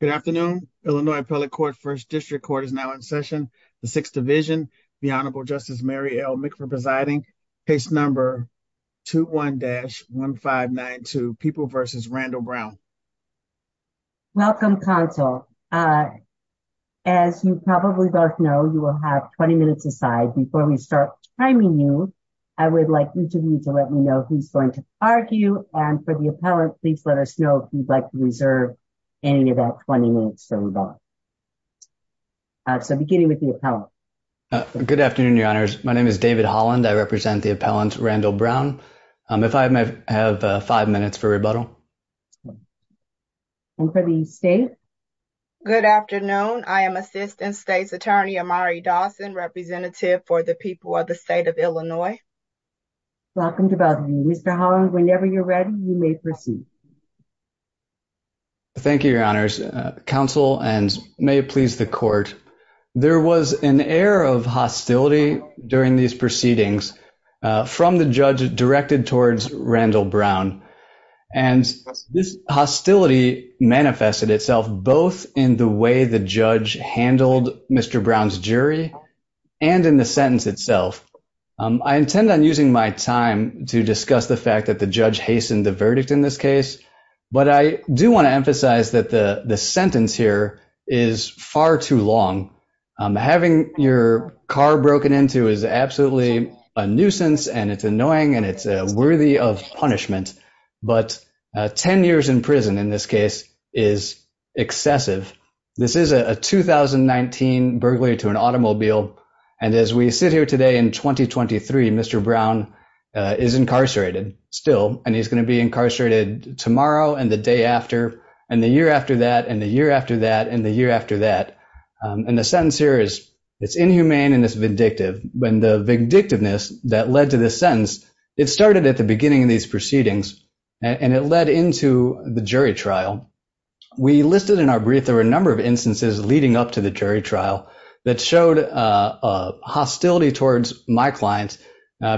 Good afternoon, Illinois Appellate Court First District Court is now in session. The Sixth Division, the Honorable Justice Mary L. McPherson presiding case number 21 dash 1592 people versus Randall Brown. Welcome console. As you probably both know you will have 20 minutes aside before we start timing you. I would like you to let me know who's going to argue, and for the appellant please let us know if you'd like to reserve any of that 20 minutes. So beginning with the appellant. Good afternoon, your honors. My name is David Holland I represent the appellant Randall Brown. If I may have five minutes for rebuttal. And for the state. Good afternoon, I am assistant state's attorney Amari Dawson representative for the people of the state of Illinois. Welcome to both of you Mr Holland whenever you're ready, you may proceed. Thank you, your honors counsel and may it please the court. There was an air of hostility during these proceedings from the judge directed towards Randall Brown, and this hostility manifested itself both in the way the judge handled Mr Brown's jury, and in the sentence itself. I intend on using my time to discuss the fact that the judge hastened the verdict in this case, but I do want to emphasize that the, the sentence here is far too long. Having your car broken into is absolutely a nuisance and it's annoying and it's worthy of punishment, but 10 years in prison in this case is excessive. This is a 2019 burglary to an automobile. And as we sit here today in 2023 Mr Brown is incarcerated, still, and he's going to be incarcerated tomorrow and the day after, and the year after that and the year after that and the year after that. And the sentence here is, it's inhumane and it's vindictive, when the vindictiveness that led to the sentence. It started at the beginning of these proceedings, and it led into the jury trial. We listed in our brief, there were a number of instances leading up to the jury trial that showed a hostility towards my client,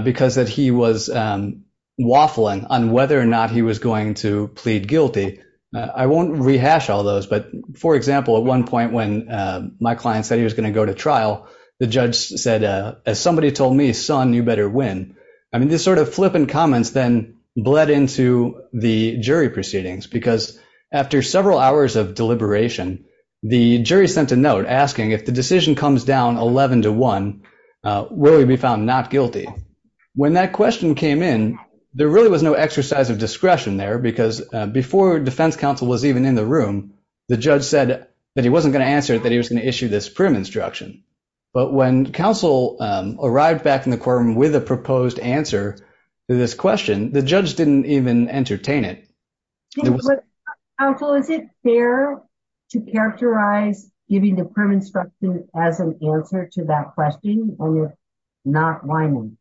because that he was waffling on whether or not he was going to plead guilty. I won't rehash all those, but for example, at one point when my client said he was going to go to trial, the judge said, as somebody told me, son, you better win. I mean, this sort of flippant comments then bled into the jury proceedings, because after several hours of deliberation, the jury sent a note asking if the decision comes down 11 to 1, will he be found not guilty? When that question came in, there really was no exercise of discretion there, because before defense counsel was even in the room, the judge said that he wasn't going to answer that he was going to issue this prim instruction. But when counsel arrived back in the courtroom with a proposed answer to this question, the judge didn't even entertain it. Counsel, is it fair to characterize giving the prim instruction as an answer to that question when you're not whining?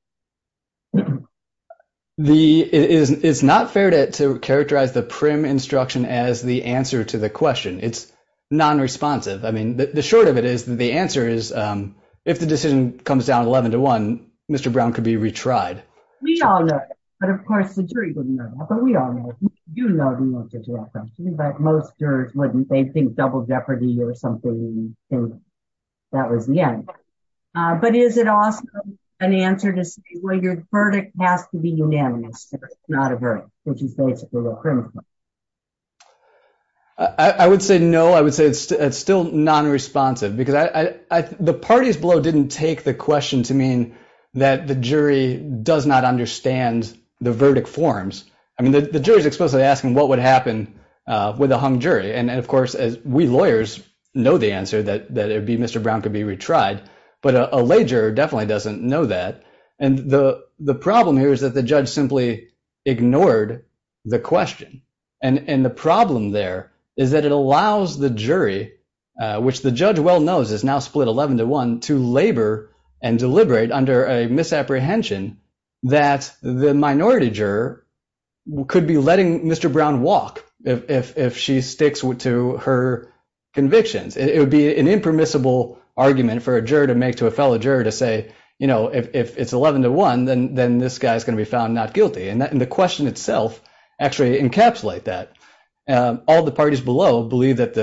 It's not fair to characterize the prim instruction as the answer to the question. It's non-responsive. I mean, the short of it is that the answer is if the decision comes down 11 to 1, Mr. Brown could be retried. We all know that. But of course, the jury wouldn't know that. But we all know. You know the answer to that question. But most jurors wouldn't. They'd think double jeopardy or something. That was the end. But is it also an answer to say, well, your verdict has to be unanimous, not a verdict, which is basically the prim instruction? I would say no. I would say it's still non-responsive. Because the parties below didn't take the question to mean that the jury does not understand the verdict forms. I mean, the jury is explicitly asking what would happen with a hung jury. And, of course, we lawyers know the answer, that it would be Mr. Brown could be retried. But a lay juror definitely doesn't know that. And the problem here is that the judge simply ignored the question. And the problem there is that it allows the jury, which the judge well knows is now split 11 to 1, to labor and deliberate under a misapprehension that the minority juror could be letting Mr. Brown walk if she sticks to her convictions. It would be an impermissible argument for a juror to make to a fellow juror to say, you know, if it's 11 to 1, then this guy is going to be found not guilty. And the question itself actually encapsulates that. All the parties below believe that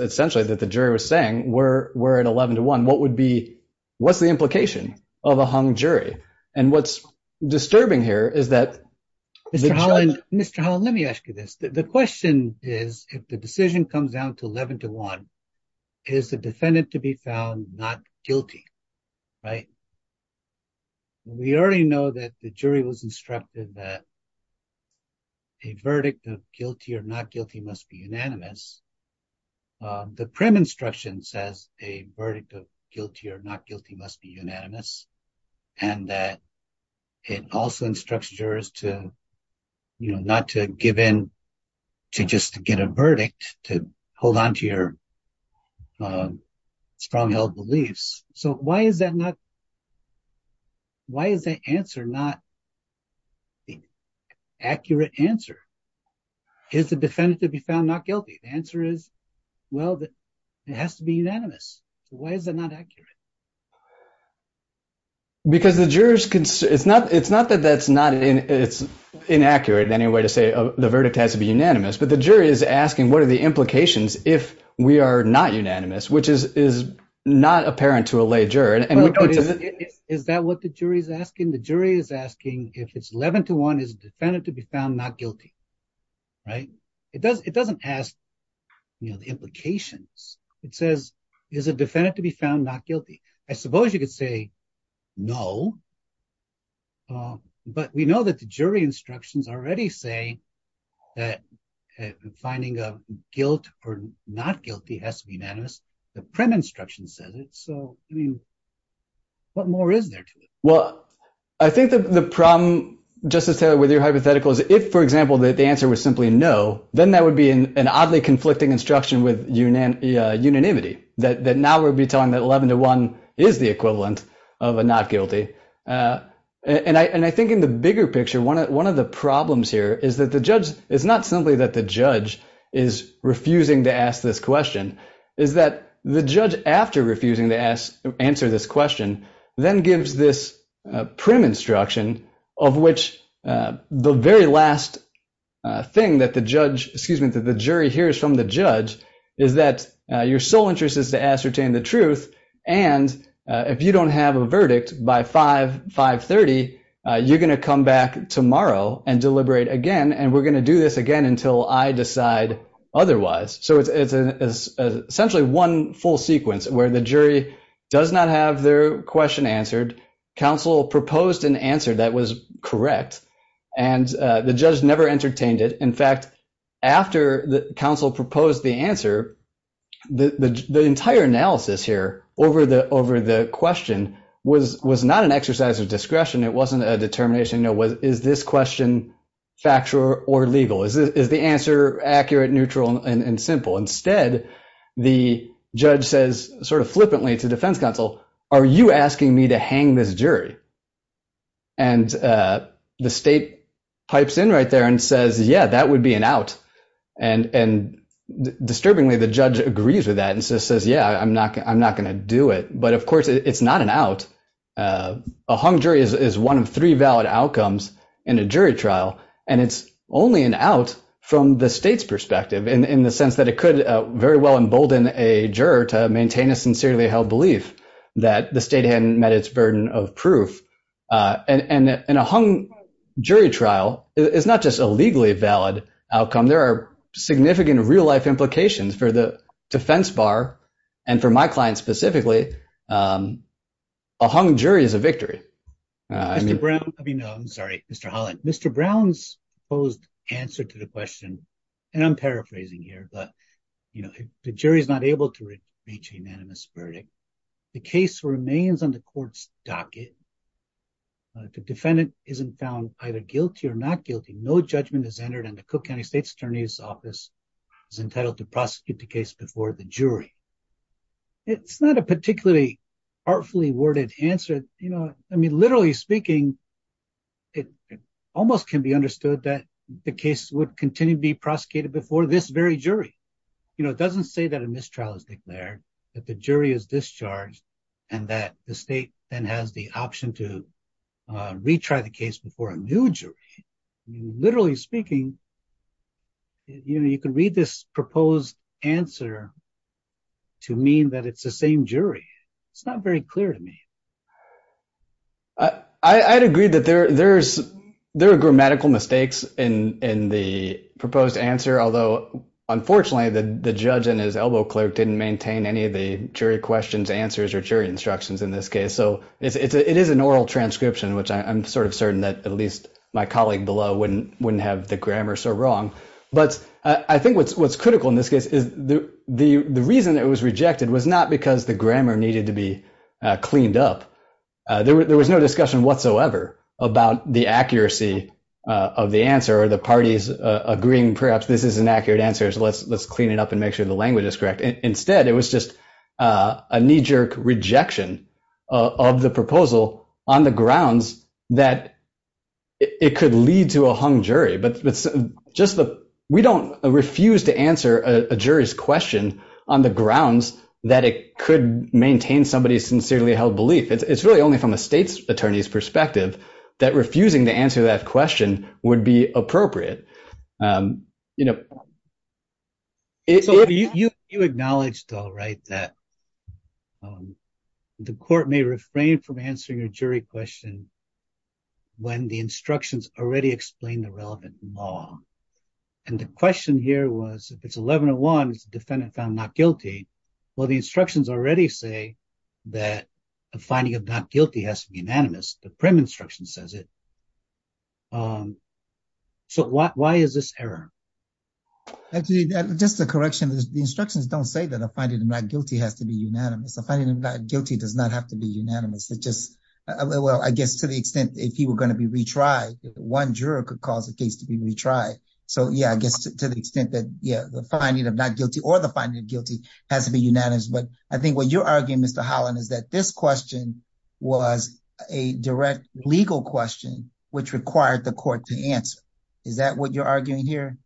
essentially that the jury was saying we're at 11 to 1. What would be what's the implication of a hung jury? And what's disturbing here is that. Mr. Holland, let me ask you this. The question is, if the decision comes down to 11 to 1, is the defendant to be found not guilty? Right. We already know that the jury was instructed that. A verdict of guilty or not guilty must be unanimous. The prim instruction says a verdict of guilty or not guilty must be unanimous and that it also instructs jurors to, you know, not to give in to just to get a verdict, to hold on to your strong held beliefs. So why is that not? Why is that answer not? Accurate answer. Is the defendant to be found not guilty? The answer is, well, it has to be unanimous. Why is it not accurate? Because the jurors, it's not it's not that that's not it's inaccurate in any way to say the verdict has to be unanimous, but the jury is asking what are the implications if we are not unanimous, which is is not apparent to a lay juror. And is that what the jury is asking? The jury is asking if it's 11 to 1 is defendant to be found not guilty. Right. It does. It doesn't ask the implications. It says is a defendant to be found not guilty. I suppose you could say no. But we know that the jury instructions already say that finding a guilt or not guilty has to be unanimous. The prim instruction says it. So, I mean, what more is there? Well, I think the problem, Justice Taylor, with your hypothetical is if, for example, that the answer was simply no, then that would be an oddly conflicting instruction with unanimity that now we'll be telling that 11 to 1 is the equivalent of a not guilty. And I think in the bigger picture, one of the problems here is that the judge is not simply that the judge is refusing to ask this question. It's that the judge, after refusing to answer this question, then gives this prim instruction of which the very last thing that the judge, excuse me, that the jury hears from the judge is that your sole interest is to ascertain the truth. And if you don't have a verdict by 5, 530, you're going to come back tomorrow and deliberate again. And we're going to do this again until I decide otherwise. So it's essentially one full sequence where the jury does not have their question answered. Counsel proposed an answer that was correct. And the judge never entertained it. In fact, after the counsel proposed the answer, the entire analysis here over the question was not an exercise of discretion. It wasn't a determination. Is this question factual or legal? Is the answer accurate, neutral, and simple? Instead, the judge says sort of flippantly to defense counsel, are you asking me to hang this jury? And the state pipes in right there and says, yeah, that would be an out. And disturbingly, the judge agrees with that and says, yeah, I'm not going to do it. But, of course, it's not an out. A hung jury is one of three valid outcomes in a jury trial. And it's only an out from the state's perspective in the sense that it could very well embolden a juror to maintain a sincerely held belief that the state hadn't met its burden of proof. And a hung jury trial is not just a legally valid outcome. There are significant real-life implications for the defense bar and for my client specifically. A hung jury is a victory. I'm sorry, Mr. Holland. Mr. Brown's opposed answer to the question, and I'm paraphrasing here, but the jury is not able to reach a unanimous verdict. The case remains on the court's docket. The defendant isn't found either guilty or not guilty. No judgment is entered, and the Cook County State's Attorney's Office is entitled to prosecute the case before the jury. It's not a particularly artfully worded answer. You know, I mean, literally speaking, it almost can be understood that the case would continue to be prosecuted before this very jury. You know, it doesn't say that a mistrial is declared, that the jury is discharged, and that the state then has the option to retry the case before a new jury. Literally speaking, you know, you can read this proposed answer to mean that it's the same jury. It's not very clear to me. I'd agree that there are grammatical mistakes in the proposed answer, although unfortunately the judge and his elbow clerk didn't maintain any of the jury questions, answers, or jury instructions in this case. So it is an oral transcription, which I'm sort of certain that at least my colleague below wouldn't have the grammar so wrong. But I think what's critical in this case is the reason it was rejected was not because the grammar needed to be cleaned up. There was no discussion whatsoever about the accuracy of the answer or the parties agreeing perhaps this is an accurate answer, so let's clean it up and make sure the language is correct. Instead, it was just a knee-jerk rejection of the proposal on the grounds that it could lead to a hung jury. But we don't refuse to answer a jury's question on the grounds that it could maintain somebody's sincerely held belief. It's really only from a state's attorney's perspective that refusing to answer that question would be appropriate. You know. You acknowledged, right, that the court may refrain from answering a jury question when the instructions already explain the relevant law. And the question here was if it's 1101, the defendant found not guilty. Well, the instructions already say that a finding of not guilty has to be unanimous. The prim instruction says it. So why is this error? Actually, just a correction. The instructions don't say that a finding of not guilty has to be unanimous. A finding of not guilty does not have to be unanimous. Well, I guess to the extent if he were going to be retried, one juror could cause the case to be retried. So, yeah, I guess to the extent that, yeah, the finding of not guilty or the finding of guilty has to be unanimous. But I think what you're arguing, Mr. Holland, is that this question was a direct legal question which required the court to answer. Is that what you're arguing here?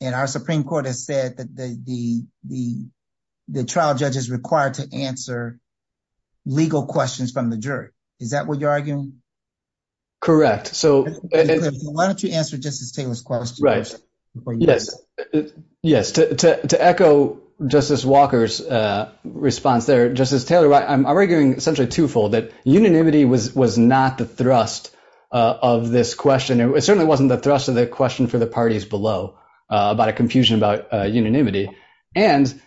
And our Supreme Court has said that the trial judge is required to answer legal questions from the jury. Is that what you're arguing? Correct. So why don't you answer Justice Taylor's question? Right. Yes. To echo Justice Walker's response there, Justice Taylor, I'm arguing essentially twofold, that unanimity was not the thrust of this question. It certainly wasn't the thrust of the question for the parties below about a confusion about unanimity. And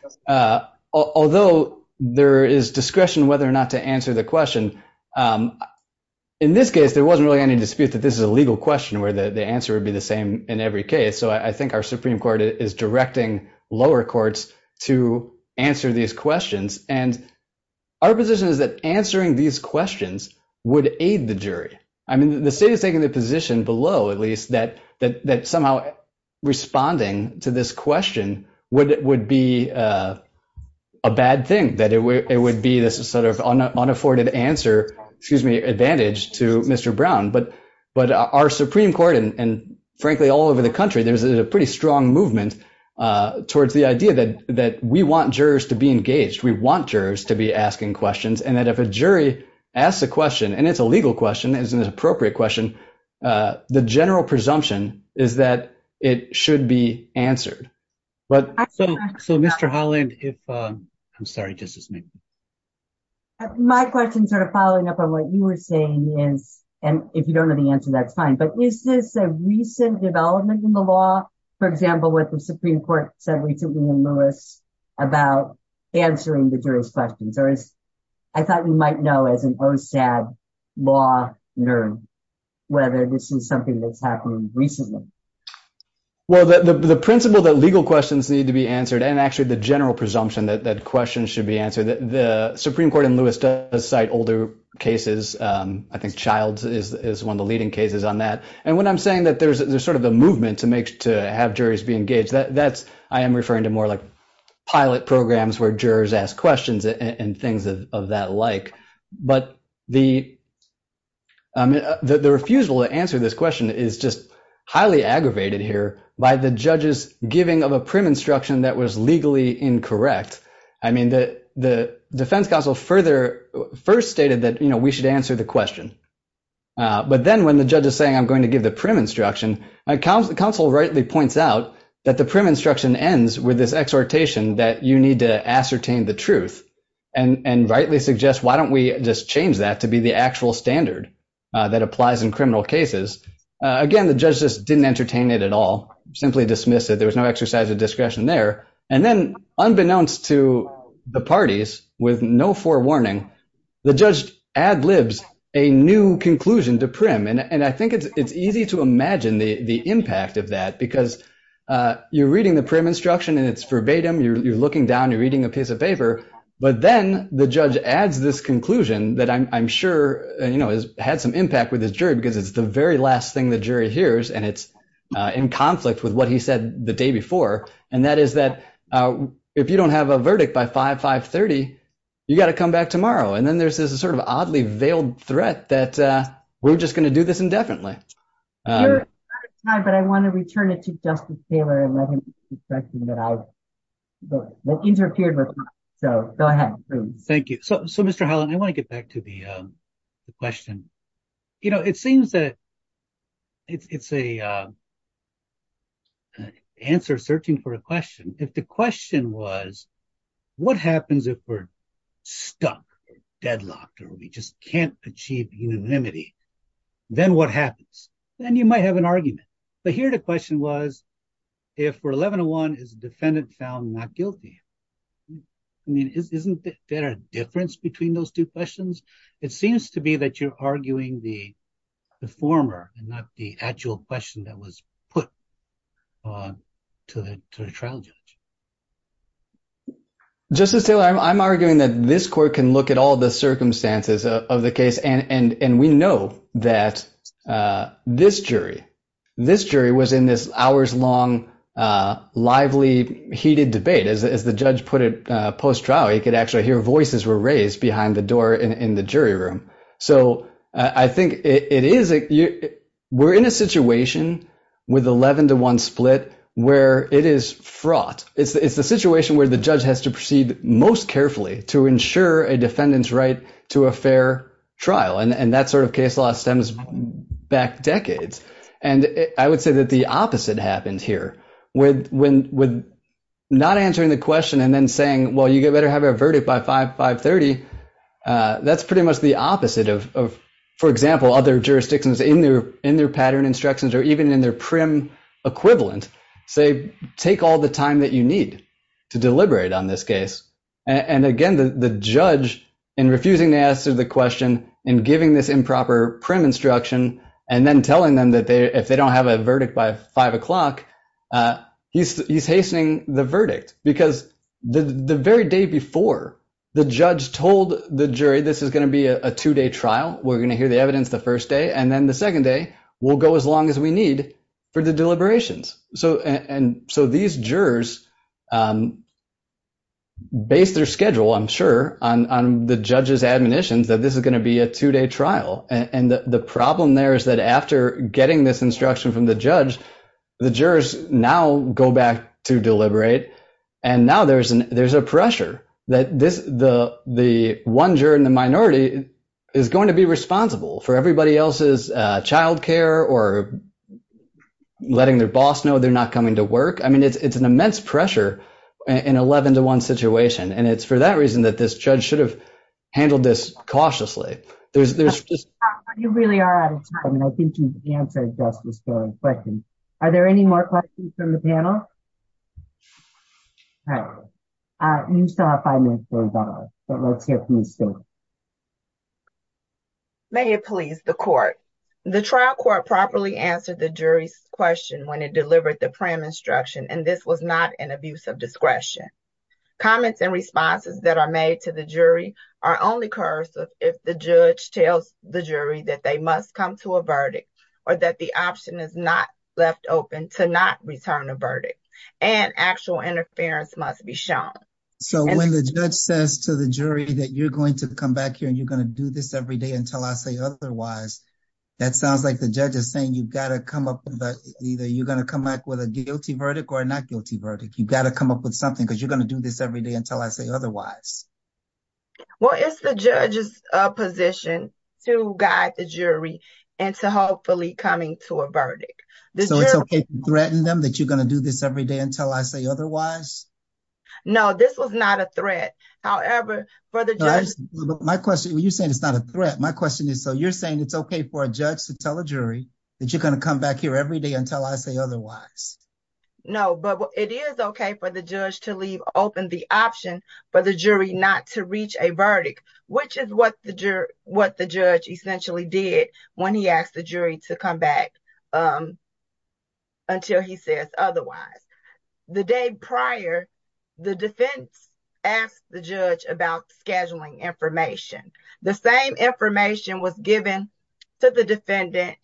although there is discretion whether or not to answer the question, in this case, there wasn't really any dispute that this is a legal question where the answer would be the same in every case. So I think our Supreme Court is directing lower courts to answer these questions. And our position is that answering these questions would aid the jury. I mean, the state is taking the position below, at least, that somehow responding to this question would be a bad thing, that it would be this sort of unafforded answer, excuse me, advantage to Mr. Brown. But our Supreme Court and, frankly, all over the country, there's a pretty strong movement towards the idea that we want jurors to be engaged. We want jurors to be asking questions and that if a jury asks a question, and it's a legal question, it's an appropriate question, the general presumption is that it should be answered. So, Mr. Holland, if – I'm sorry, Justice Meek. My question sort of following up on what you were saying is, and if you don't know the answer, that's fine, but is this a recent development in the law? For example, what the Supreme Court said recently in Lewis about answering the jury's questions, or is – I thought we might know as an OSAB law nerd whether this is something that's happened recently. Well, the principle that legal questions need to be answered and actually the general presumption that questions should be answered, the Supreme Court in Lewis does cite older cases. I think Childs is one of the leading cases on that. And when I'm saying that there's sort of a movement to have jurors be engaged, that's – I am referring to more like pilot programs where jurors ask questions and things of that like. But the refusal to answer this question is just highly aggravated here by the judge's giving of a prim instruction that was legally incorrect. I mean, the defense counsel further – first stated that we should answer the question. But then when the judge is saying I'm going to give the prim instruction, counsel rightly points out that the prim instruction ends with this exhortation that you need to ascertain the truth and rightly suggest why don't we just change that to be the actual standard that applies in criminal cases. Again, the judge just didn't entertain it at all, simply dismissed it. There was no exercise of discretion there. And then unbeknownst to the parties, with no forewarning, the judge ad libs a new conclusion to prim. And I think it's easy to imagine the impact of that because you're reading the prim instruction and it's verbatim. You're looking down. You're reading a piece of paper. But then the judge adds this conclusion that I'm sure has had some impact with this jury because it's the very last thing the jury hears and it's in conflict with what he said the day before. And that is that if you don't have a verdict by 5-5-30, you've got to come back tomorrow. And then there's this sort of oddly veiled threat that we're just going to do this indefinitely. You're out of time, but I want to return it to Justice Taylor and let him explain that I've interfered with time. So go ahead, please. Thank you. So, Mr. Holland, I want to get back to the question. It seems that it's an answer searching for a question. If the question was, what happens if we're stuck or deadlocked or we just can't achieve unanimity, then what happens? Then you might have an argument. But here the question was, if we're 11-1, is the defendant found not guilty? I mean, isn't there a difference between those two questions? It seems to be that you're arguing the former and not the actual question that was put to the trial judge. Justice Taylor, I'm arguing that this court can look at all the circumstances of the case. And we know that this jury, this jury was in this hours-long, lively, heated debate. As the judge put it post-trial, you could actually hear voices were raised behind the door in the jury room. So I think it is – we're in a situation with 11-1 split where it is fraught. It's the situation where the judge has to proceed most carefully to ensure a defendant's right to a fair trial. And that sort of case law stems back decades. And I would say that the opposite happened here. With not answering the question and then saying, well, you better have a verdict by 5-5-30, that's pretty much the opposite of, for example, other jurisdictions in their pattern instructions or even in their prim equivalent. Say, take all the time that you need to deliberate on this case. And again, the judge, in refusing to answer the question and giving this improper prim instruction and then telling them that if they don't have a verdict by 5 o'clock, he's hastening the verdict. Because the very day before, the judge told the jury this is going to be a two-day trial. We're going to hear the evidence the first day. And then the second day, we'll go as long as we need for the deliberations. So these jurors based their schedule, I'm sure, on the judge's admonitions that this is going to be a two-day trial. And the problem there is that after getting this instruction from the judge, the jurors now go back to deliberate. And now there's a pressure that the one juror in the minority is going to be responsible for everybody else's child care or letting their boss know they're not coming to work. I mean, it's an immense pressure in an 11-to-1 situation. And it's for that reason that this judge should have handled this cautiously. You really are out of time, and I think you've answered just the starting question. Are there any more questions from the panel? All right. You still have five minutes for rebuttal, but let's hear from Ms. Stewart. May it please the court. The trial court properly answered the jury's question when it delivered the prim instruction, and this was not an abuse of discretion. Comments and responses that are made to the jury are only coercive if the judge tells the jury that they must come to a verdict or that the option is not left open to not return a verdict and actual interference must be shown. So when the judge says to the jury that you're going to come back here and you're going to do this every day until I say otherwise, that sounds like the judge is saying you've got to come up with either you're going to come back with a guilty verdict or a not guilty verdict. You've got to come up with something because you're going to do this every day until I say otherwise. Well, it's the judge's position to guide the jury and to hopefully coming to a verdict. So it's OK to threaten them that you're going to do this every day until I say otherwise? No, this was not a threat. However, for the judge. My question, you're saying it's not a threat. My question is, so you're saying it's OK for a judge to tell a jury that you're going to come back here every day until I say otherwise? No, but it is OK for the judge to leave open the option for the jury not to reach a verdict, which is what the what the judge essentially did when he asked the jury to come back until he says otherwise. The day prior, the defense asked the judge about scheduling information. The same information was given to the defendant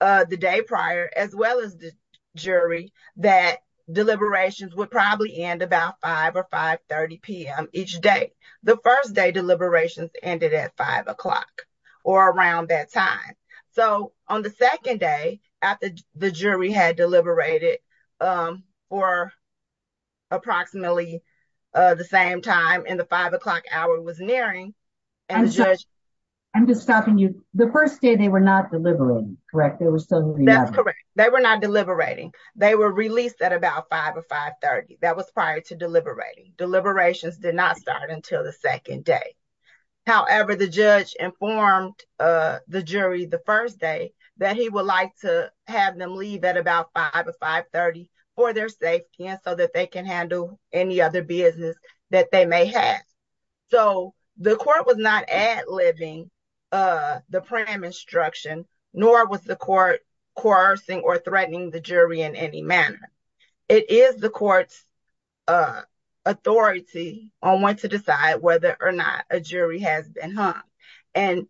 the day prior, as well as the jury, that deliberations would probably end about five or five thirty p.m. each day. The first day deliberations ended at five o'clock or around that time. So on the second day after the jury had deliberated for. Approximately the same time in the five o'clock hour was nearing. And so I'm just stopping you. The first day they were not deliberately correct. There was something that's correct. They were not deliberating. They were released at about five or five. That was prior to deliberating. Deliberations did not start until the second day. However, the judge informed the jury the first day that he would like to have them leave at about five or five thirty for their safety and so that they can handle any other business that they may have. So the court was not ad libbing the prime instruction, nor was the court coercing or threatening the jury in any manner. It is the court's authority on when to decide whether or not a jury has been hung. And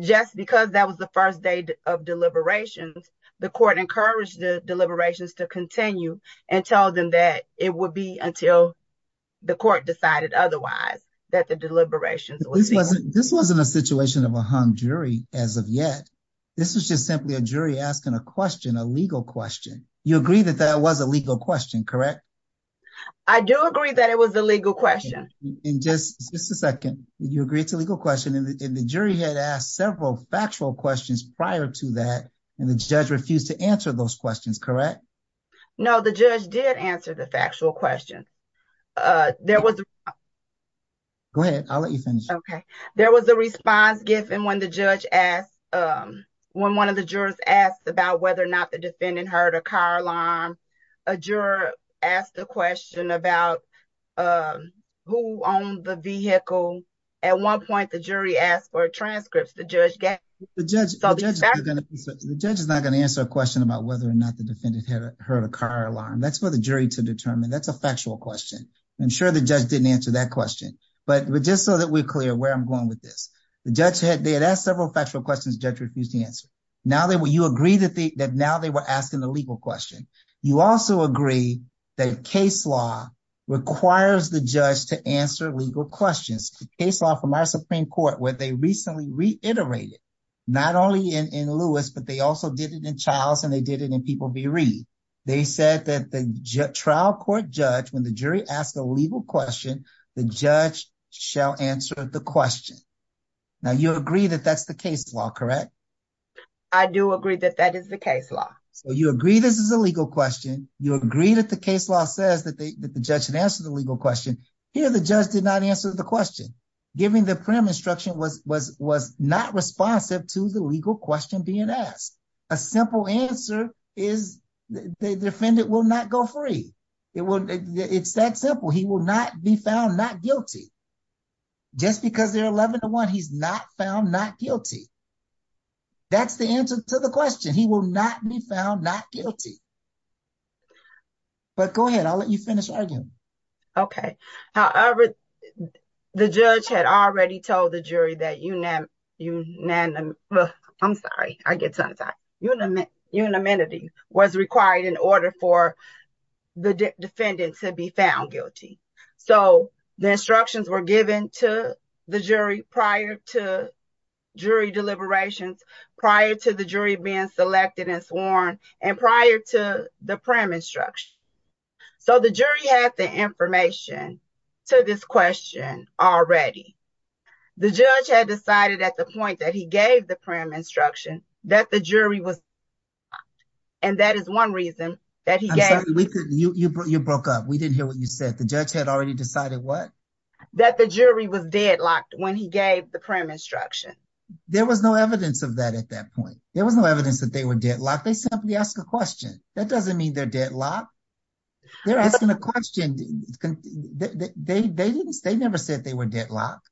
just because that was the first day of deliberations, the court encouraged the deliberations to continue and tell them that it would be until the court decided otherwise that the deliberations. This wasn't this wasn't a situation of a hung jury as of yet. This was just simply a jury asking a question, a legal question. You agree that that was a legal question, correct? I do agree that it was a legal question. In just a second, you agreed to legal question in the jury had asked several factual questions prior to that, and the judge refused to answer those questions, correct? No, the judge did answer the factual question. There was. Go ahead, I'll let you finish, OK? There was a response given when the judge asked when one of the jurors asked about whether or not the defendant heard a car alarm. A juror asked a question about who owned the vehicle. At one point, the jury asked for transcripts. The judge gave the judge. The judge is not going to answer a question about whether or not the defendant had heard a car alarm. That's for the jury to determine. That's a factual question. I'm sure the judge didn't answer that question. But just so that we're clear where I'm going with this, the judge had asked several factual questions. Judge refused to answer. Now, you agree that now they were asking the legal question. You also agree that case law requires the judge to answer legal questions. The case law from our Supreme Court, where they recently reiterated not only in Lewis, but they also did it in Childs and they did it in people. They said that the trial court judge, when the jury asked a legal question, the judge shall answer the question. Now, you agree that that's the case law, correct? I do agree that that is the case law. So you agree this is a legal question. You agree that the case law says that the judge should answer the legal question. Here, the judge did not answer the question. Giving the prim instruction was was was not responsive to the legal question being asked. A simple answer is the defendant will not go free. It's that simple. He will not be found not guilty. Just because they're 11 to 1, he's not found not guilty. That's the answer to the question. He will not be found not guilty. But go ahead, I'll let you finish arguing. OK. However, the judge had already told the jury that you know, you know, I'm sorry. I get that you know, you know, amenities was required in order for the defendant to be found guilty. So the instructions were given to the jury prior to jury deliberations prior to the jury being selected and sworn. And prior to the prim instruction. So the jury had the information to this question already. The judge had decided at the point that he gave the prim instruction that the jury was. And that is one reason that we could. You broke up. We didn't hear what you said. The judge had already decided what that the jury was deadlocked when he gave the prim instruction. There was no evidence of that at that point. There was no evidence that they were deadlocked. They simply ask a question. That doesn't mean they're deadlocked. They're asking a question. They didn't. They never said they were deadlocked.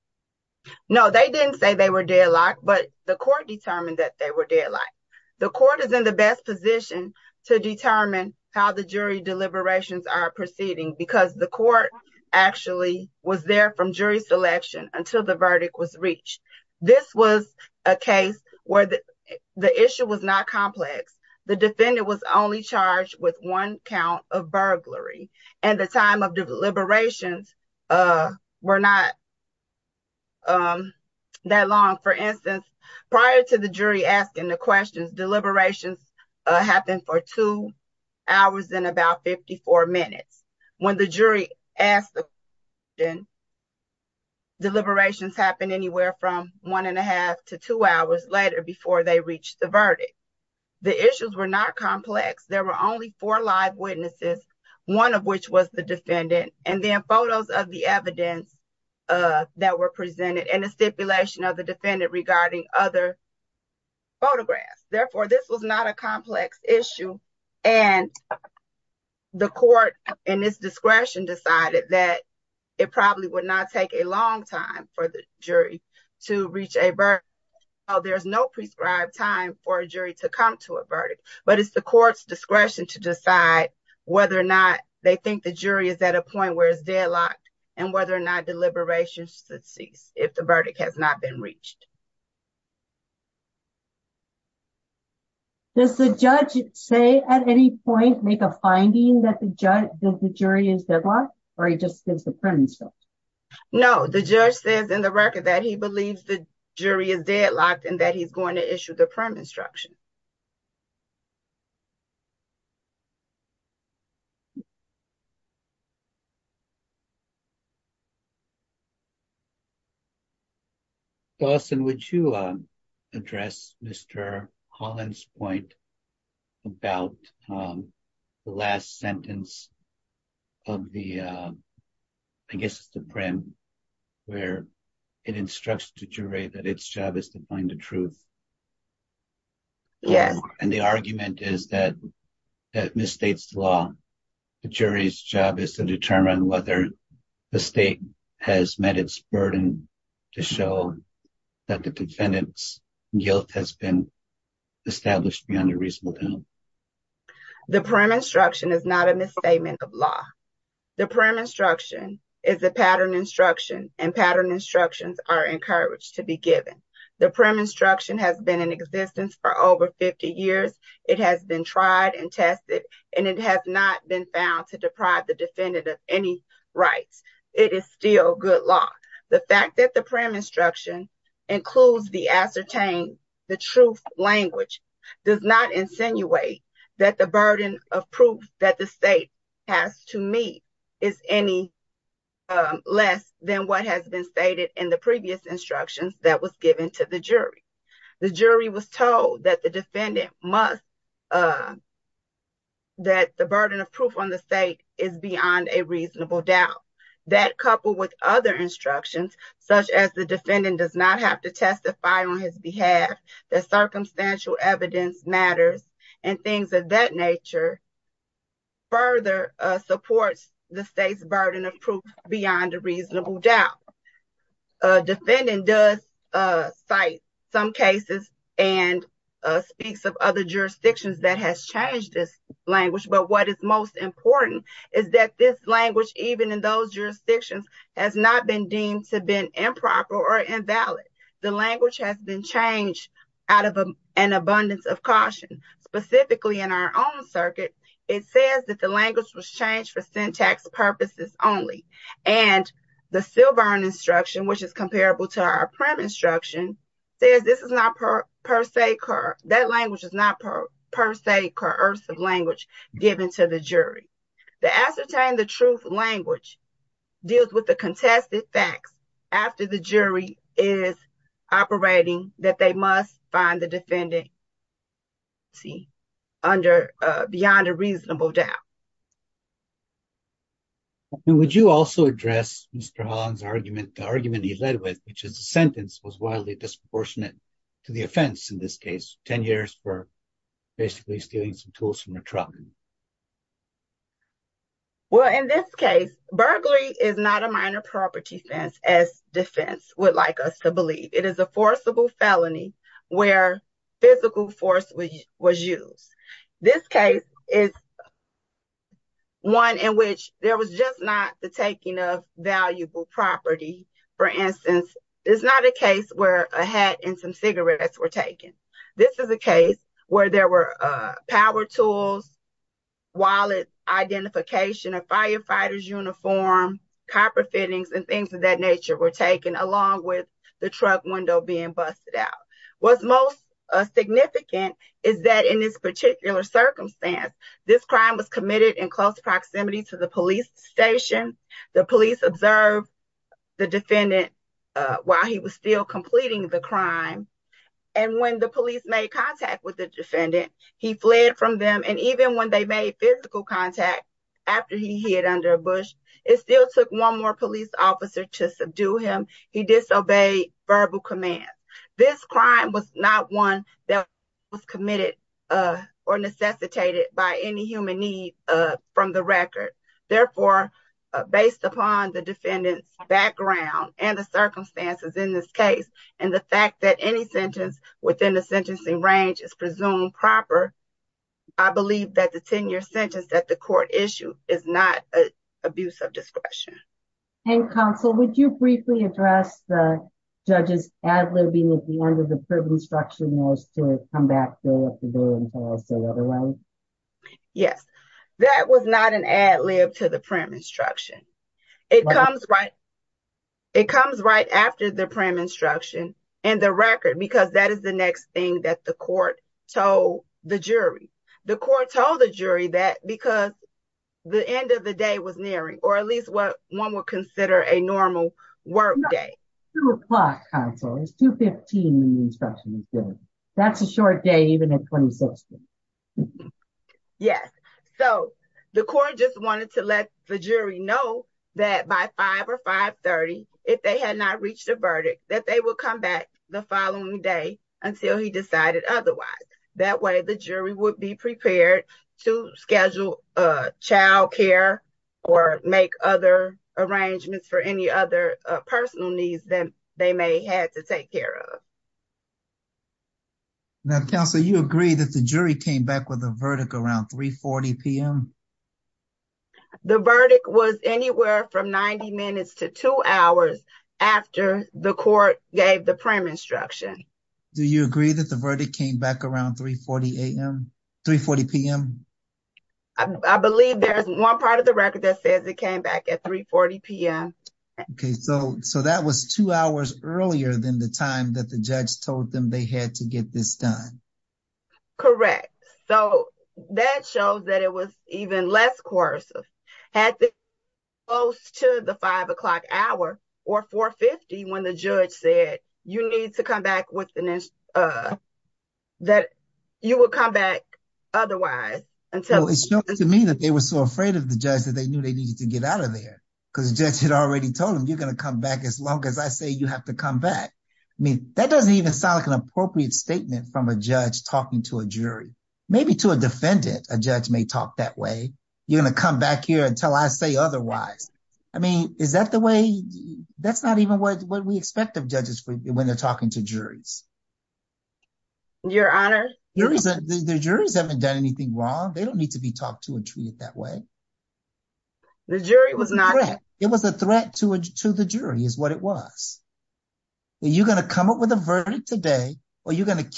No, they didn't say they were deadlocked, but the court determined that they were deadlocked. The court is in the best position to determine how the jury deliberations are proceeding, because the court actually was there from jury selection until the verdict was reached. This was a case where the issue was not complex. The defendant was only charged with one count of burglary and the time of deliberations were not. That long, for instance, prior to the jury asking the questions, deliberations happened for two hours in about 54 minutes. When the jury asked the question, deliberations happened anywhere from one and a half to two hours later before they reached the verdict. The issues were not complex. There were only four live witnesses, one of which was the defendant. And then photos of the evidence that were presented and a stipulation of the defendant regarding other photographs. Therefore, this was not a complex issue. And the court in its discretion decided that it probably would not take a long time for the jury to reach a verdict. Oh, there's no prescribed time for a jury to come to a verdict. But it's the court's discretion to decide whether or not they think the jury is at a point where it's deadlocked and whether or not deliberations should cease if the verdict has not been reached. Does the judge say at any point make a finding that the jury is deadlocked or he just gives the permit? No, the judge says in the record that he believes the jury is deadlocked and that he's going to issue the permit instruction. Dawson, would you address Mr. Holland's point about the last sentence of the, I guess it's the prim where it instructs the jury that its job is to find the truth. Yes, and the argument is that it misstates the law. The jury's job is to determine whether the state has met its burden to show that the defendant's guilt has been established beyond a reasonable doubt. The prim instruction is not a misstatement of law. The prim instruction is a pattern instruction and pattern instructions are encouraged to be given. The prim instruction has been in existence for over 50 years. It has been tried and tested, and it has not been found to deprive the defendant of any rights. It is still good law. The fact that the prim instruction includes the ascertain the truth language does not insinuate that the burden of proof that the state has to me is any less than what has been stated in the previous instructions that was given to the jury. The jury was told that the defendant must, that the burden of proof on the state is beyond a reasonable doubt. That coupled with other instructions, such as the defendant does not have to testify on his behalf, that circumstantial evidence matters, and things of that nature further supports the state's burden of proof beyond a reasonable doubt. A defendant does cite some cases and speaks of other jurisdictions that has changed this language, but what is most important is that this language, even in those jurisdictions, has not been deemed to have been improper or invalid. The language has been changed out of an abundance of caution, specifically in our own circuit. It says that the language was changed for syntax purposes only, and the Silburn instruction, which is comparable to our prim instruction, says this is not per se, that language is not per se coercive language given to the jury. The ascertain the truth language deals with the contested facts after the jury is operating that they must find the defendant beyond a reasonable doubt. And would you also address Mr. Holland's argument, the argument he led with, which is the sentence was wildly disproportionate to the offense in this case, 10 years for basically stealing some tools from a truck. Well, in this case, burglary is not a minor property offense as defense would like us to believe. It is a forcible felony where physical force was used. This case is one in which there was just not the taking of valuable property. For instance, it's not a case where a hat and some cigarettes were taken. This is a case where there were power tools, wallet identification, a firefighter's uniform, copper fittings, and things of that nature were taken along with the truck window being busted out. What's most significant is that in this particular circumstance, this crime was committed in close proximity to the police station. The police observed the defendant while he was still completing the crime. And when the police made contact with the defendant, he fled from them. And even when they made physical contact after he hid under a bush, it still took one more police officer to subdue him. He disobeyed verbal command. This crime was not one that was committed or necessitated by any human need from the record. Therefore, based upon the defendant's background and the circumstances in this case, and the fact that any sentence within the sentencing range is presumed proper, I believe that the 10-year sentence that the court issued is not an abuse of discretion. And counsel, would you briefly address the judge's ad libbing at the end of the prim instruction to come back, go up the building, and say otherwise? Yes. That was not an ad lib to the prim instruction. It comes right after the prim instruction and the record, because that is the next thing that the court told the jury. The court told the jury that because the end of the day was nearing, or at least what one would consider a normal work day. 2 o'clock, counsel. It's 2.15 in the instruction. That's a short day, even at 26. Yes. So the court just wanted to let the jury know that by 5 or 5.30, if they had not reached a verdict, that they will come back the following day until he decided otherwise. That way, the jury would be prepared to schedule child care or make other arrangements for any other personal needs that they may have to take care of. Now, counsel, you agree that the jury came back with a verdict around 3.40 p.m.? The verdict was anywhere from 90 minutes to 2 hours after the court gave the prim instruction. Do you agree that the verdict came back around 3.40 a.m.? 3.40 p.m.? I believe there is one part of the record that says it came back at 3.40 p.m. Okay. So that was 2 hours earlier than the time that the judge told them they had to get this done. Correct. So that shows that it was even less coercive. At the close to the 5 o'clock hour or 4.50 when the judge said you need to come back with an instruction, that you will come back otherwise. It shows to me that they were so afraid of the judge that they knew they needed to get out of there because the judge had already told them you're going to come back as long as I say you have to come back. I mean, that doesn't even sound like an appropriate statement from a judge talking to a jury. Maybe to a defendant, a judge may talk that way. You're going to come back here until I say otherwise. I mean, is that the way that's not even what we expect of judges when they're talking to juries? Your Honor. The juries haven't done anything wrong. They don't need to be talked to and treated that way. The jury was not. It was a threat to the jury is what it was. Are you going to come up with a verdict today or are you going to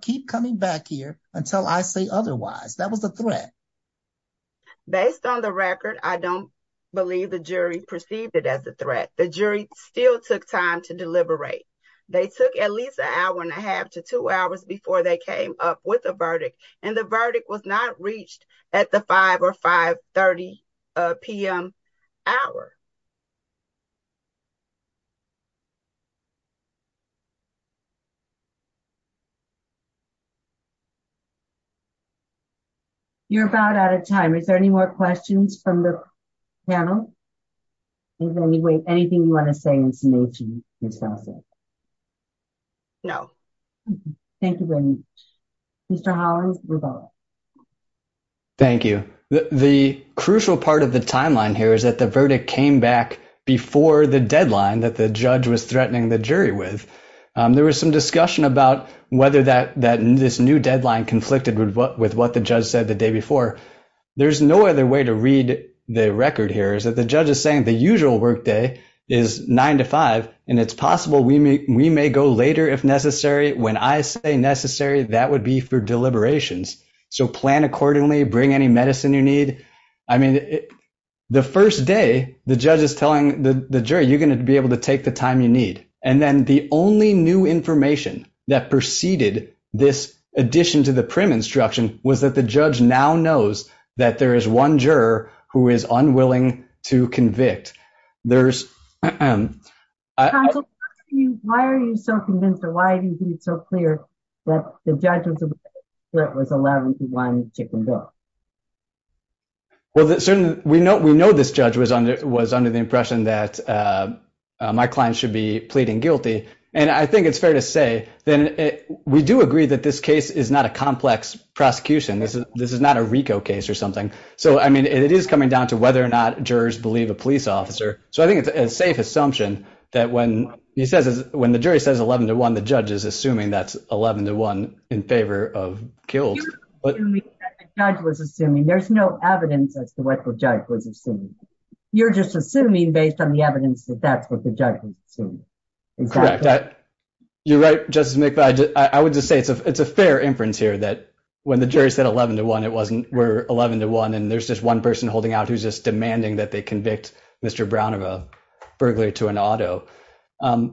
keep coming back here until I say otherwise? That was a threat. Based on the record, I don't believe the jury perceived it as a threat. The jury still took time to deliberate. They took at least an hour and a half to two hours before they came up with a verdict. And the verdict was not reached at the five or five thirty p.m. hour. You're about out of time. Is there any more questions from the panel? Anything you want to say in summation? No. Thank you. Mr. Holland. Thank you. The crucial part of the timeline here is that the verdict came back before the deadline that the judge was threatening the jury with. There was some discussion about whether that that this new deadline conflicted with what with what the judge said the day before. There's no other way to read the record here is that the judge is saying the usual workday is nine to five and it's possible we may we may go later if necessary. When I say necessary, that would be for deliberations. So plan accordingly. Bring any medicine you need. I mean, the first day the judge is telling the jury you're going to be able to take the time you need. And then the only new information that preceded this addition to the prim instruction was that the judge now knows that there is one juror who is unwilling to convict. There's. Why are you so convinced or why are you so clear that the judges that was allowed to go? Well, we know we know this judge was under was under the impression that my client should be pleading guilty. And I think it's fair to say that we do agree that this case is not a complex prosecution. This is this is not a RICO case or something. So, I mean, it is coming down to whether or not jurors believe a police officer. So I think it's a safe assumption that when he says when the jury says 11 to one, the judge is assuming that's 11 to one in favor of killed. But the judge was assuming there's no evidence as to what the judge was assuming. You're just assuming based on the evidence that that's what the judge. You're right. Just make. I would just say it's a it's a fair inference here that when the jury said 11 to one, it wasn't 11 to one. And there's just one person holding out who's just demanding that they convict Mr. Brown of a burglary to an auto. And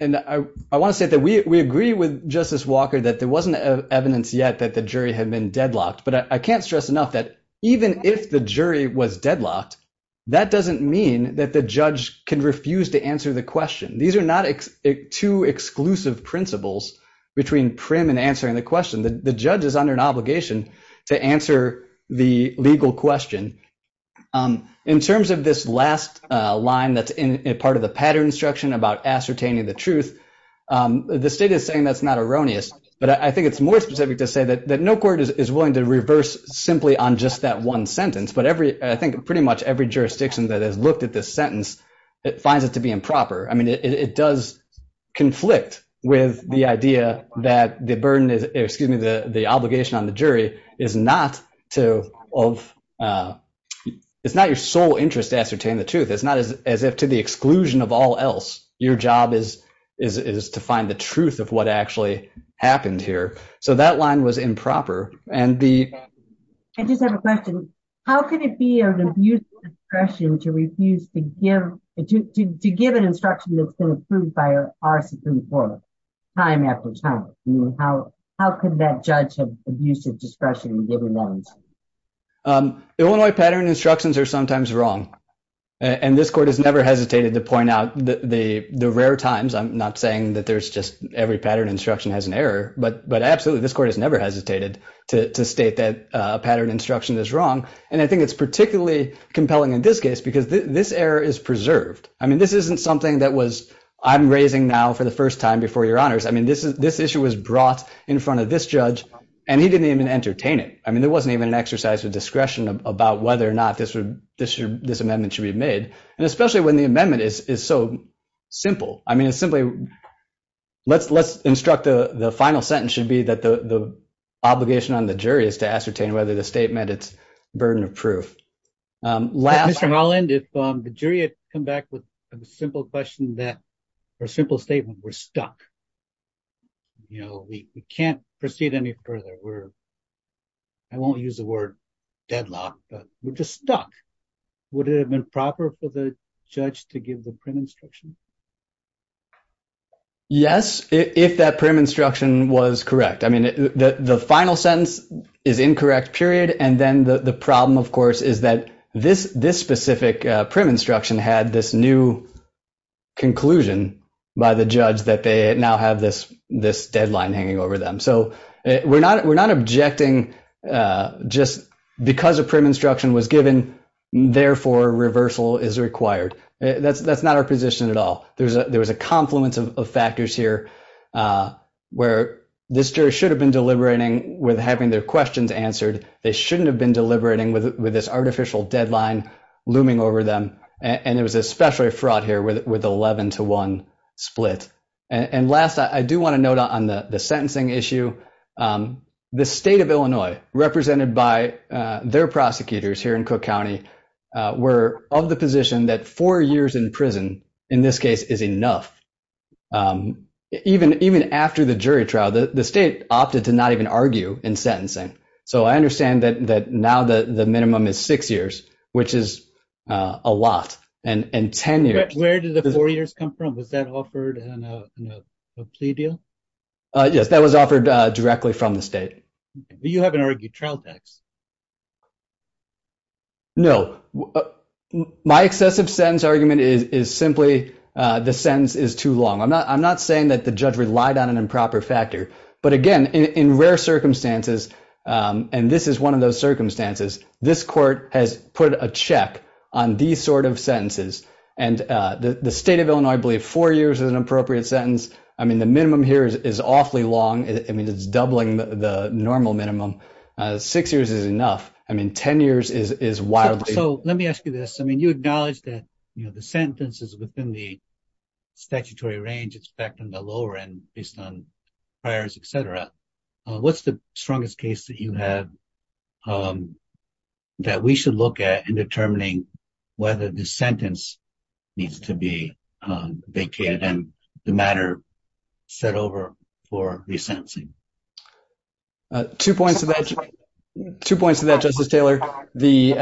I want to say that we agree with Justice Walker that there wasn't evidence yet that the jury had been deadlocked. But I can't stress enough that even if the jury was deadlocked, that doesn't mean that the judge can refuse to answer the question. These are not two exclusive principles between prim and answering the question. The judge is under an obligation to answer the legal question. In terms of this last line that's in part of the pattern instruction about ascertaining the truth, the state is saying that's not erroneous. But I think it's more specific to say that no court is willing to reverse simply on just that one sentence. But every I think pretty much every jurisdiction that has looked at this sentence, it finds it to be improper. I mean, it does conflict with the idea that the burden is, excuse me, the obligation on the jury is not to of it's not your sole interest to ascertain the truth. It's not as if to the exclusion of all else. Your job is to find the truth of what actually happened here. So that line was improper. I just have a question. How can it be an abuse of discretion to refuse to give an instruction that's been approved by our Supreme Court time after time? How can that judge have abuse of discretion in giving that instruction? Illinois pattern instructions are sometimes wrong. And this court has never hesitated to point out the rare times. I'm not saying that there's just every pattern instruction has an error. But absolutely, this court has never hesitated to state that a pattern instruction is wrong. And I think it's particularly compelling in this case because this error is preserved. I mean, this isn't something that was I'm raising now for the first time before your honors. I mean, this issue was brought in front of this judge, and he didn't even entertain it. I mean, there wasn't even an exercise of discretion about whether or not this amendment should be made. And especially when the amendment is so simple. I mean, it's simply let's instruct the final sentence should be that the obligation on the jury is to ascertain whether the statement it's burden of proof. Mr. Holland, if the jury had come back with a simple question or simple statement, we're stuck. You know, we can't proceed any further. I won't use the word deadlock, but we're just stuck. Would it have been proper for the judge to give the prim instruction? Yes, if that prim instruction was correct. I mean, the final sentence is incorrect, period. And then the problem, of course, is that this specific prim instruction had this new conclusion by the judge that they now have this deadline hanging over them. So we're not objecting just because a prim instruction was given. Therefore, reversal is required. That's not our position at all. There was a confluence of factors here where this jury should have been deliberating with having their questions answered. They shouldn't have been deliberating with this artificial deadline looming over them. And it was especially fraught here with 11 to 1 split. And last, I do want to note on the sentencing issue, the state of Illinois, represented by their prosecutors here in Cook County, were of the position that four years in prison, in this case, is enough. Even after the jury trial, the state opted to not even argue in sentencing. So I understand that now the minimum is six years, which is a lot. Where did the four years come from? Was that offered in a plea deal? Yes, that was offered directly from the state. You haven't argued trial tax. No. My excessive sentence argument is simply the sentence is too long. I'm not saying that the judge relied on an improper factor. But, again, in rare circumstances, and this is one of those circumstances, this court has put a check on these sort of sentences. And the state of Illinois believed four years is an appropriate sentence. I mean, the minimum here is awfully long. I mean, it's doubling the normal minimum. Six years is enough. I mean, ten years is wildly. So let me ask you this. I mean, you acknowledge that the sentence is within the statutory range. It's back on the lower end, based on priors, et cetera. What's the strongest case that you have that we should look at in determining whether the sentence needs to be vacated and the matter set over for resentencing? Two points to that, Justice Taylor. The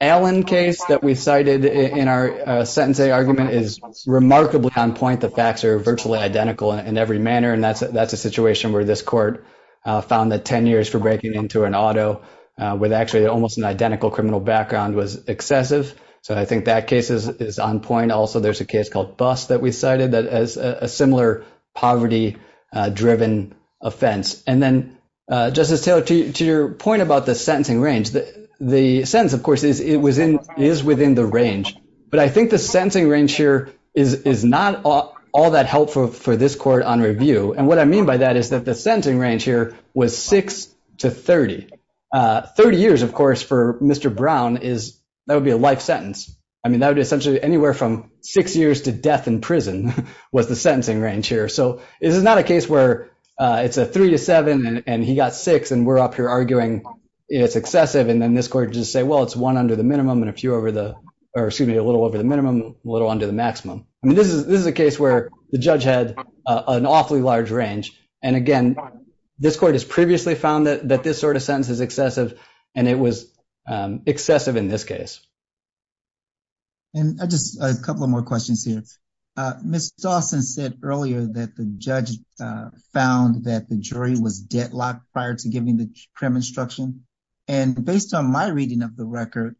Allen case that we cited in our sentence argument is remarkably on point. The facts are virtually identical in every manner. And that's a situation where this court found that ten years for breaking into an auto with actually almost an identical criminal background was excessive. So I think that case is on point. Also, there's a case called Bust that we cited as a similar poverty-driven offense. And then, Justice Taylor, to your point about the sentencing range, the sentence, of course, is within the range. But I think the sentencing range here is not all that helpful for this court on review. And what I mean by that is that the sentencing range here was six to 30. Thirty years, of course, for Mr. Brown, that would be a life sentence. I mean, that would be essentially anywhere from six years to death in prison was the sentencing range here. So this is not a case where it's a three to seven and he got six and we're up here arguing it's excessive. And then this court would just say, well, it's one under the minimum and a few over the – or excuse me, a little over the minimum, a little under the maximum. I mean, this is a case where the judge had an awfully large range. And again, this court has previously found that this sort of sentence is excessive and it was excessive in this case. And just a couple of more questions here. Ms. Dawson said earlier that the judge found that the jury was deadlocked prior to giving the prim instruction. And based on my reading of the record,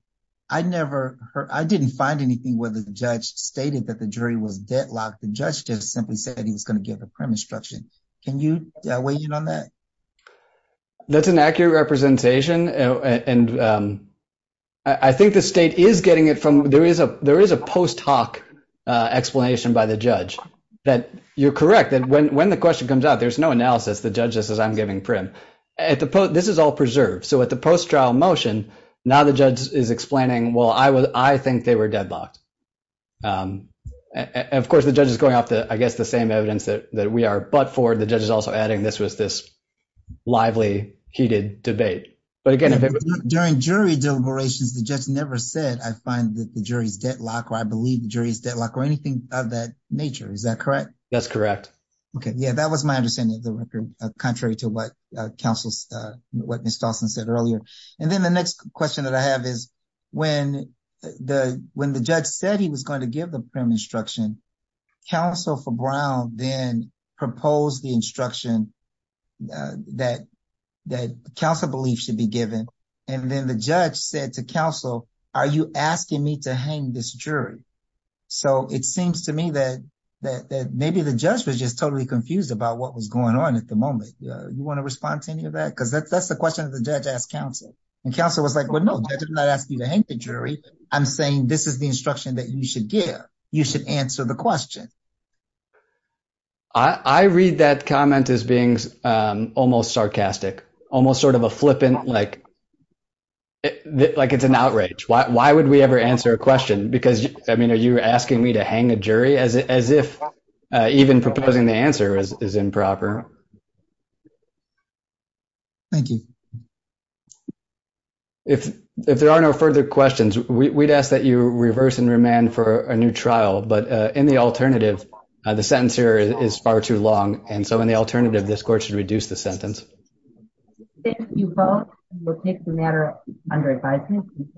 I never – I didn't find anything where the judge stated that the jury was deadlocked. The judge just simply said he was going to give the prim instruction. Can you weigh in on that? That's an accurate representation. And I think the state is getting it from – there is a post hoc explanation by the judge that you're correct, that when the question comes out, there's no analysis. The judge just says I'm giving prim. This is all preserved. So at the post trial motion, now the judge is explaining, well, I think they were deadlocked. Of course, the judge is going off, I guess, the same evidence that we are but for. The judge is also adding this was this lively, heated debate. But again, if it was – During jury deliberations, the judge never said I find that the jury is deadlocked or I believe the jury is deadlocked or anything of that nature. Is that correct? That's correct. Okay. Yeah, that was my understanding of the record, contrary to what counsel – what Ms. Dawson said earlier. And then the next question that I have is when the judge said he was going to give the prim instruction, counsel for Brown then proposed the instruction that counsel belief should be given. And then the judge said to counsel, are you asking me to hang this jury? So it seems to me that maybe the judge was just totally confused about what was going on at the moment. Do you want to respond to any of that? Because that's the question that the judge asked counsel. And counsel was like, well, no, the judge did not ask you to hang the jury. I'm saying this is the instruction that you should give. You should answer the question. I read that comment as being almost sarcastic, almost sort of a flippant – like it's an outrage. Why would we ever answer a question? Because, I mean, are you asking me to hang a jury? As if even proposing the answer is improper. Thank you. If there are no further questions, we'd ask that you reverse and remand for a new trial. But in the alternative, the sentence here is far too long. And so in the alternative, this court should reduce the sentence. Thank you both. We'll take the matter under advisement.